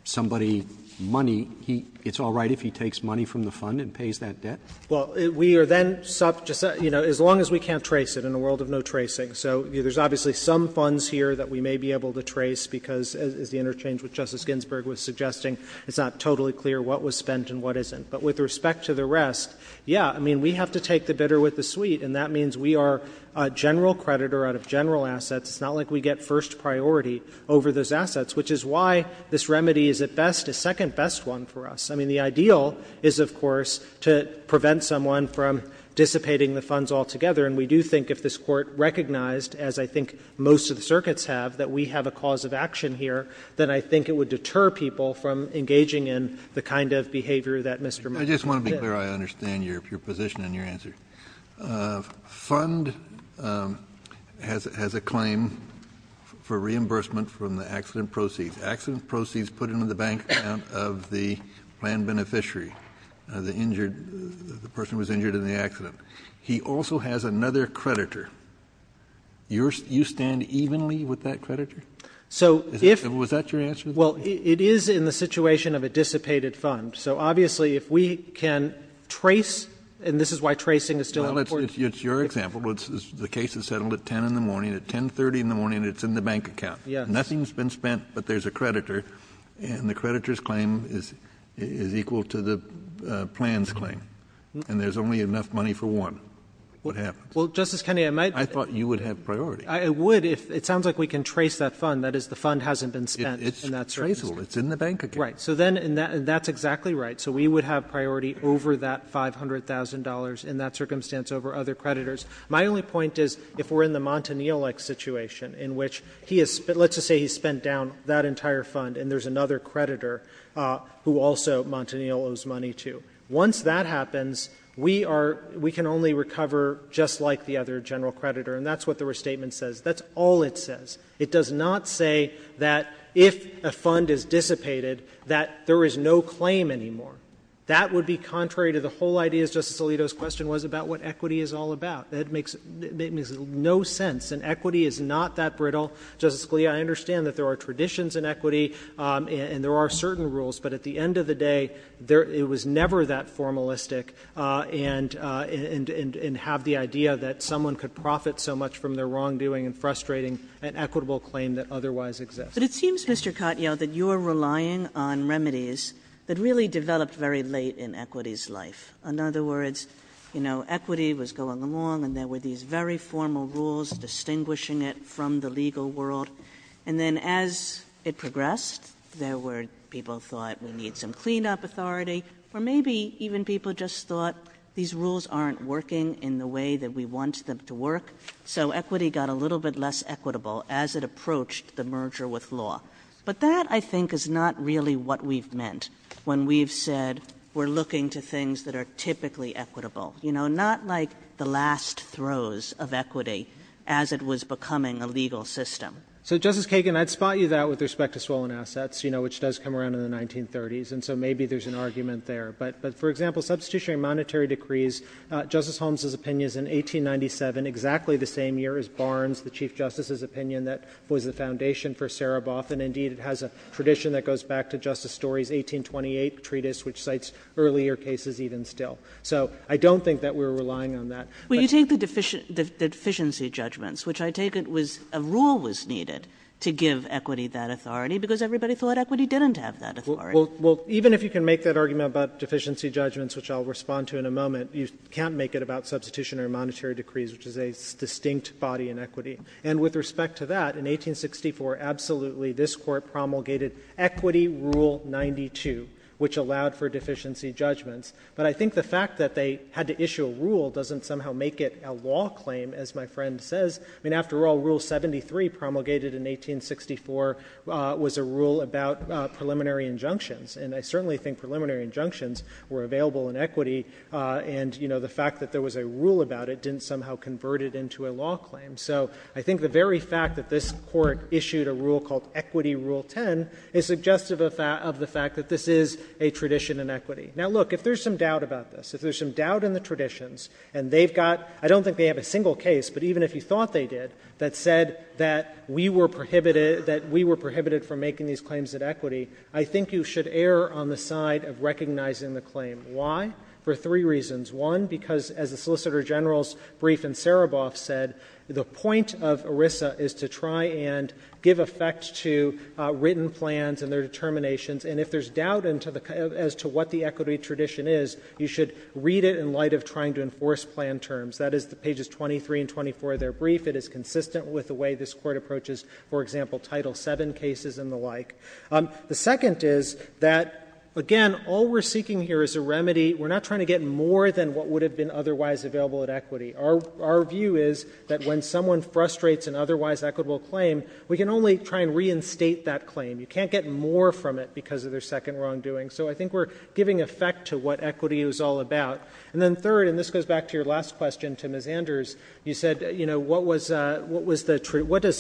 somebody money, he — it's all right if he takes money from the fund and pays that debt? Well, we are then — you know, as long as we can't trace it in a world of no tracing. So there's obviously some funds here that we may be able to trace because, as the interchange with Justice Ginsburg was suggesting, it's not totally clear what was spent and what isn't. But with respect to the rest, yeah, I mean, we have to take the bidder with the sweet, and that means we are a general creditor out of general assets. It's not like we get first priority over those assets, which is why this remedy is at best a second best one for us. I mean, the ideal is, of course, to prevent someone from dissipating the funds altogether. And we do think if this Court recognized, as I think most of the circuits have, that we have a cause of action here, then I think it would deter people from engaging in the kind of behavior that Mr. Montanillo did. I just want to be clear. I understand your position and your answer. The fund has a claim for reimbursement from the accident proceeds. Accident proceeds put into the bank account of the land beneficiary, the injured — the person who was injured in the accident. He also has another creditor. You stand evenly with that creditor? So if — Was that your answer? Well, it is in the situation of a dissipated fund. So obviously, if we can trace — and this is why tracing is still important. Well, it's your example. The case is settled at 10 in the morning. At 10.30 in the morning, it's in the bank account. Yes. Nothing's been spent, but there's a creditor, and the creditor's claim is equal to the plan's claim. And there's only enough money for one. What happens? Well, Justice Kennedy, I might — I thought you would have priority. I would, if — it sounds like we can trace that fund. That is, the fund hasn't been spent in that circumstance. It's traceable. It's in the bank account. Right. So then — and that's exactly right. So we would have priority over that $500,000 in that circumstance over other creditors. My only point is, if we're in the Montanile-like situation, in which he has — let's just say he spent down that entire fund, and there's another creditor who also Montanile owes money to. Once that happens, we are — we can only recover just like the other general creditor. And that's what the restatement says. That's all it says. It does not say that if a fund is dissipated, that there is no claim anymore. That would be contrary to the whole idea, as Justice Alito's question was, about what equity is all about. That makes no sense. And equity is not that brittle. Justice Scalia, I understand that there are traditions in equity, and there are certain rules, but at the end of the day, it was never that formalistic, and have the idea that someone could profit so much from their wrongdoing and frustrating and equitable claim that otherwise exists. Kagan. But it seems, Mr. Katyal, that you're relying on remedies that really developed very late in equity's life. In other words, you know, equity was going along, and there were these very formal rules distinguishing it from the legal world. And then as it progressed, there were people who thought, we need some cleanup authority, or maybe even people just thought, these rules aren't working in the way that we want them to work. So equity got a little bit less equitable as it approached the merger with law. But that, I think, is not really what we've meant when we've said, we're looking to things that are typically equitable. You know, not like the last throws of equity as it was becoming a legal system. So Justice Kagan, I'd spot you that with respect to swollen assets, you know, which does come around in the 1930s, and so maybe there's an argument there. But, for example, substitutionary monetary decrees, Justice Holmes' opinion is in 1897, exactly the same year as Barnes, the Chief Justice's opinion, that was the foundation for Sereboff. And indeed, it has a tradition that goes back to Justice Story's 1828 treatise, which cites earlier cases even still. So I don't think that we're relying on that. Kagan. Well, you take the deficiency judgments, which I take it was a rule was needed to give equity that authority, because everybody thought equity didn't have that authority. Well, even if you can make that argument about deficiency judgments, which I'll respond to in a moment, you can't make it about substitutionary monetary decrees, which is a distinct body in equity. And with respect to that, in 1864, absolutely, this Court promulgated Equity Rule 92, which allowed for deficiency judgments. But I think the fact that they had to issue a rule doesn't somehow make it a law claim, as my friend says. I mean, after all, Rule 73 promulgated in 1864 was a rule about preliminary injunctions. And I certainly think preliminary injunctions were available in equity, and, you know, the fact that there was a rule about it didn't somehow convert it into a law claim. So I think the very fact that this Court issued a rule called Equity Rule 10 is suggestive of the fact that this is a tradition in equity. Now, look, if there's some doubt about this, if there's some doubt in the traditions, and they've got — I don't think they have a single case, but even if you thought they did, that said that we were prohibited — that we were prohibited from making these claims at equity, I think you should err on the side of recognizing the claim. Why? For three reasons. One, because, as the Solicitor General's brief in Sereboff said, the point of ERISA is to try and give effect to written plans and their determinations. And if there's doubt as to what the equity tradition is, you should read it in light of trying to enforce plan terms. That is the pages 23 and 24 of their brief. It is consistent with the way this Court approaches, for example, Title VII cases and the like. The second is that, again, all we're seeking here is a remedy. We're not trying to get more than what would have been otherwise available at equity. Our view is that when someone frustrates an otherwise equitable claim, we can only try and reinstate that claim. You can't get more from it because of their second wrongdoing. So I think we're giving effect to what equity is all about. And then third, and this goes back to your last question to Ms. Anders, you said, you know, what does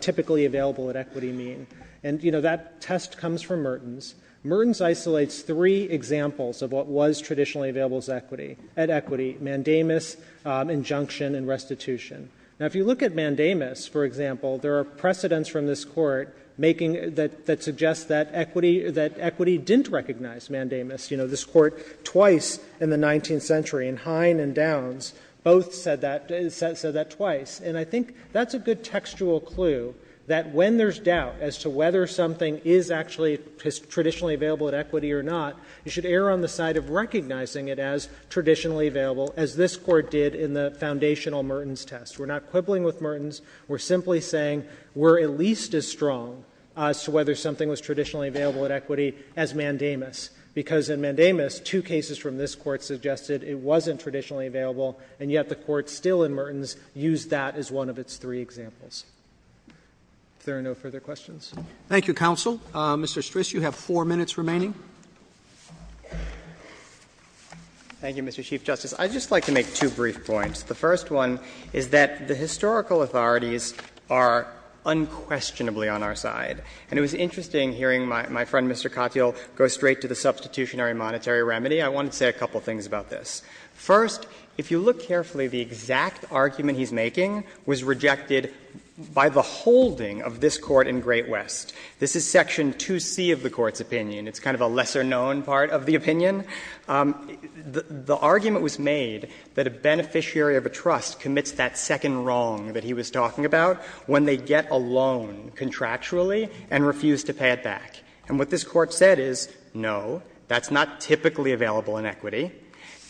typically available at equity mean? And you know, that test comes from Mertens. Mertens isolates three examples of what was traditionally available at equity, mandamus, injunction and restitution. Now, if you look at mandamus, for example, there are precedents from this Court that suggest that equity didn't recognize mandamus. You know, this Court twice in the 19th century, in Hine and Downs, both said that twice. And I think that's a good textual clue that when there's doubt as to whether something is actually traditionally available at equity or not, you should err on the side of recognizing it as traditionally available, as this Court did in the foundational Mertens test. We're not quibbling with Mertens. We're simply saying we're at least as strong as to whether something was traditionally available at equity as mandamus, because in mandamus, two cases from this Court suggested it wasn't traditionally available, and yet the Court still in Mertens used that as one of its three examples. If there are no further questions. Thank you, counsel. Mr. Stris, you have four minutes remaining. Thank you, Mr. Chief Justice. I'd just like to make two brief points. The first one is that the historical authorities are unquestionably on our side. And it was interesting hearing my friend, Mr. Katyal, go straight to the substitutionary monetary remedy. I want to say a couple of things about this. First, if you look carefully, the exact argument he's making was rejected by the holding of this Court in Great West. This is Section 2C of the Court's opinion. It's kind of a lesser-known part of the opinion. The argument was made that a beneficiary of a trust commits that second wrong that he was talking about when they get a loan contractually and refuse to pay it back. And what this Court said is, no, that's not typically available in equity,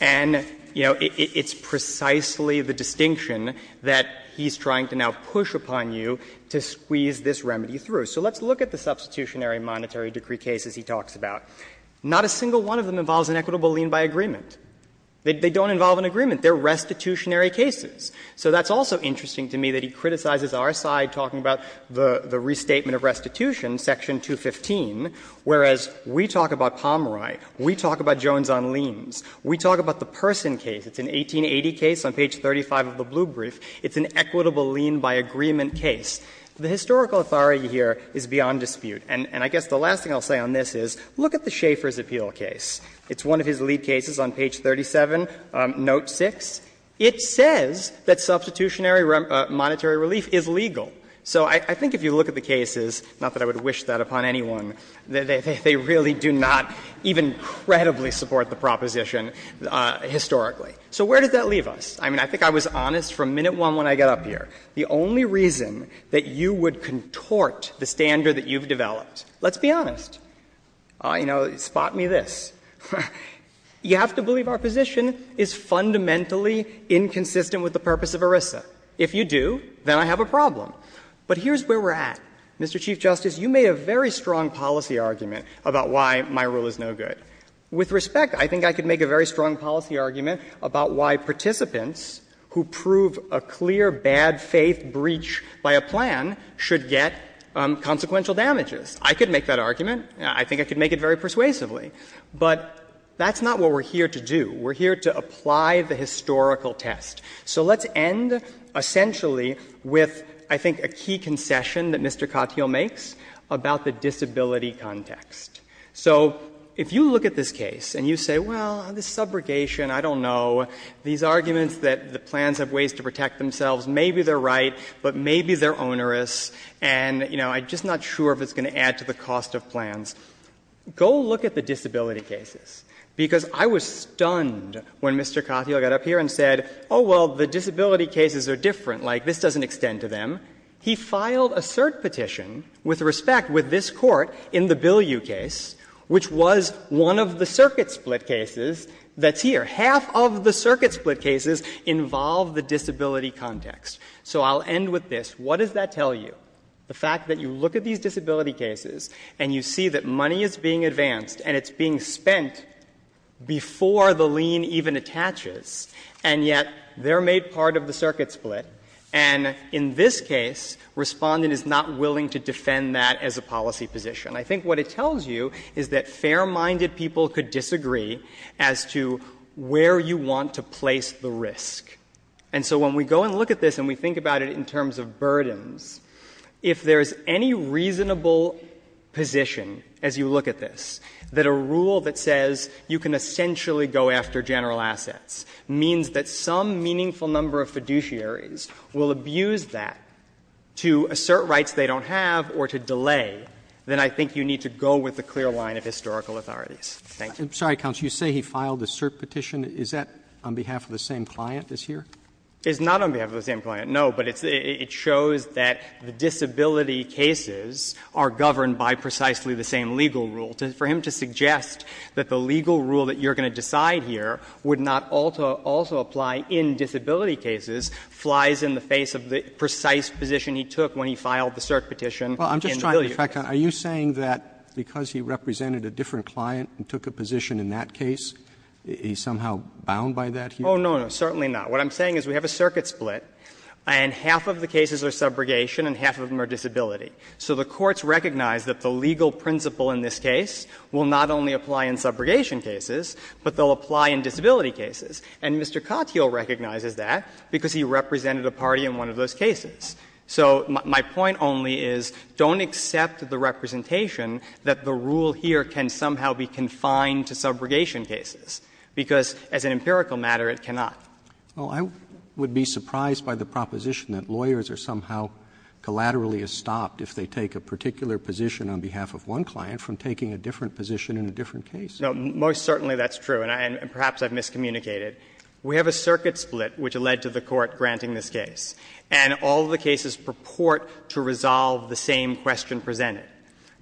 and, you know, it's precisely the distinction that he's trying to now push upon you to squeeze this remedy through. So let's look at the substitutionary monetary decree cases he talks about. Not a single one of them involves an equitable lien by agreement. They don't involve an agreement. They're restitutionary cases. So that's also interesting to me that he criticizes our side talking about the restatement of restitution, Section 215, whereas we talk about Pomeroy, we talk about Jones on liens, we talk about the Person case. It's an 1880 case on page 35 of the blue brief. It's an equitable lien by agreement case. The historical authority here is beyond dispute. And I guess the last thing I'll say on this is, look at the Schaeffer's appeal case. It's one of his lead cases on page 37, note 6. It says that substitutionary monetary relief is legal. So I think if you look at the cases, not that I would wish that upon anyone, they really do not even credibly support the proposition historically. So where does that leave us? I mean, I think I was honest from minute one when I got up here. The only reason that you would contort the standard that you've developed, let's be honest. You know, spot me this. You have to believe our position is fundamentally inconsistent with the purpose of ERISA. If you do, then I have a problem. But here's where we're at. Mr. Chief Justice, you made a very strong policy argument about why my rule is no good. With respect, I think I could make a very strong policy argument about why participants who prove a clear bad-faith breach by a plan should get consequential damages. I could make that argument. I think I could make it very persuasively. But that's not what we're here to do. We're here to apply the historical test. So let's end essentially with, I think, a key concession that Mr. Cotthiel makes about the disability context. So if you look at this case and you say, well, this subrogation, I don't know, these arguments that the plans have ways to protect themselves, maybe they're right, but maybe they're onerous. And, you know, I'm just not sure if it's going to add to the cost of plans. Go look at the disability cases, because I was stunned when Mr. Cotthiel got up here and said, oh, well, the disability cases are different. Like, this doesn't extend to them. He filed a cert petition, with respect, with this Court in the Bilieu case, which was one of the circuit split cases that's here. Half of the circuit split cases involve the disability context. So I'll end with this. What does that tell you? The fact that you look at these disability cases and you see that money is being advanced and it's being spent before the lien even attaches, and yet they're made part of the circuit split. And in this case, Respondent is not willing to defend that as a policy position. And I think what it tells you is that fair-minded people could disagree as to where you want to place the risk. And so when we go and look at this and we think about it in terms of burdens, if there's any reasonable position, as you look at this, that a rule that says you can essentially go after general assets means that some meaningful number of fiduciaries will abuse that to assert rights they don't have or to delay, then I think it's a reasonable And I think you need to go with the clear line of historical authorities. Thank you. Roberts. I'm sorry, counsel, you say he filed the cert petition. Is that on behalf of the same client as here? It's not on behalf of the same client, no, but it's the ‑‑ it shows that the disability cases are governed by precisely the same legal rule. For him to suggest that the legal rule that you're going to decide here would not also apply in disability cases flies in the face of the precise position he took when he filed the cert petition in Billiard. Well, I'm just trying to track down, are you saying that because he represented a different client and took a position in that case, he's somehow bound by that here? Oh, no, no, certainly not. What I'm saying is we have a circuit split and half of the cases are subrogation and half of them are disability. So the courts recognize that the legal principle in this case will not only apply in subrogation cases, but they'll apply in disability cases. And Mr. Cottiel recognizes that because he represented a party in one of those cases. So my point only is don't accept the representation that the rule here can somehow be confined to subrogation cases, because as an empirical matter, it cannot. Well, I would be surprised by the proposition that lawyers are somehow collaterally stopped if they take a particular position on behalf of one client from taking a different position in a different case. No, most certainly that's true, and perhaps I've miscommunicated. We have a circuit split which led to the court granting this case. And all of the cases purport to resolve the same question presented.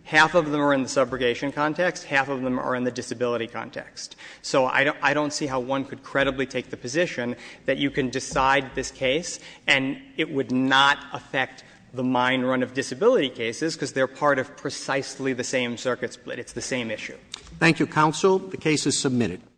Half of them are in the subrogation context, half of them are in the disability context. So I don't see how one could credibly take the position that you can decide this case and it would not affect the mine run of disability cases, because they're part of precisely the same circuit split. It's the same issue. Thank you, counsel. The case is submitted.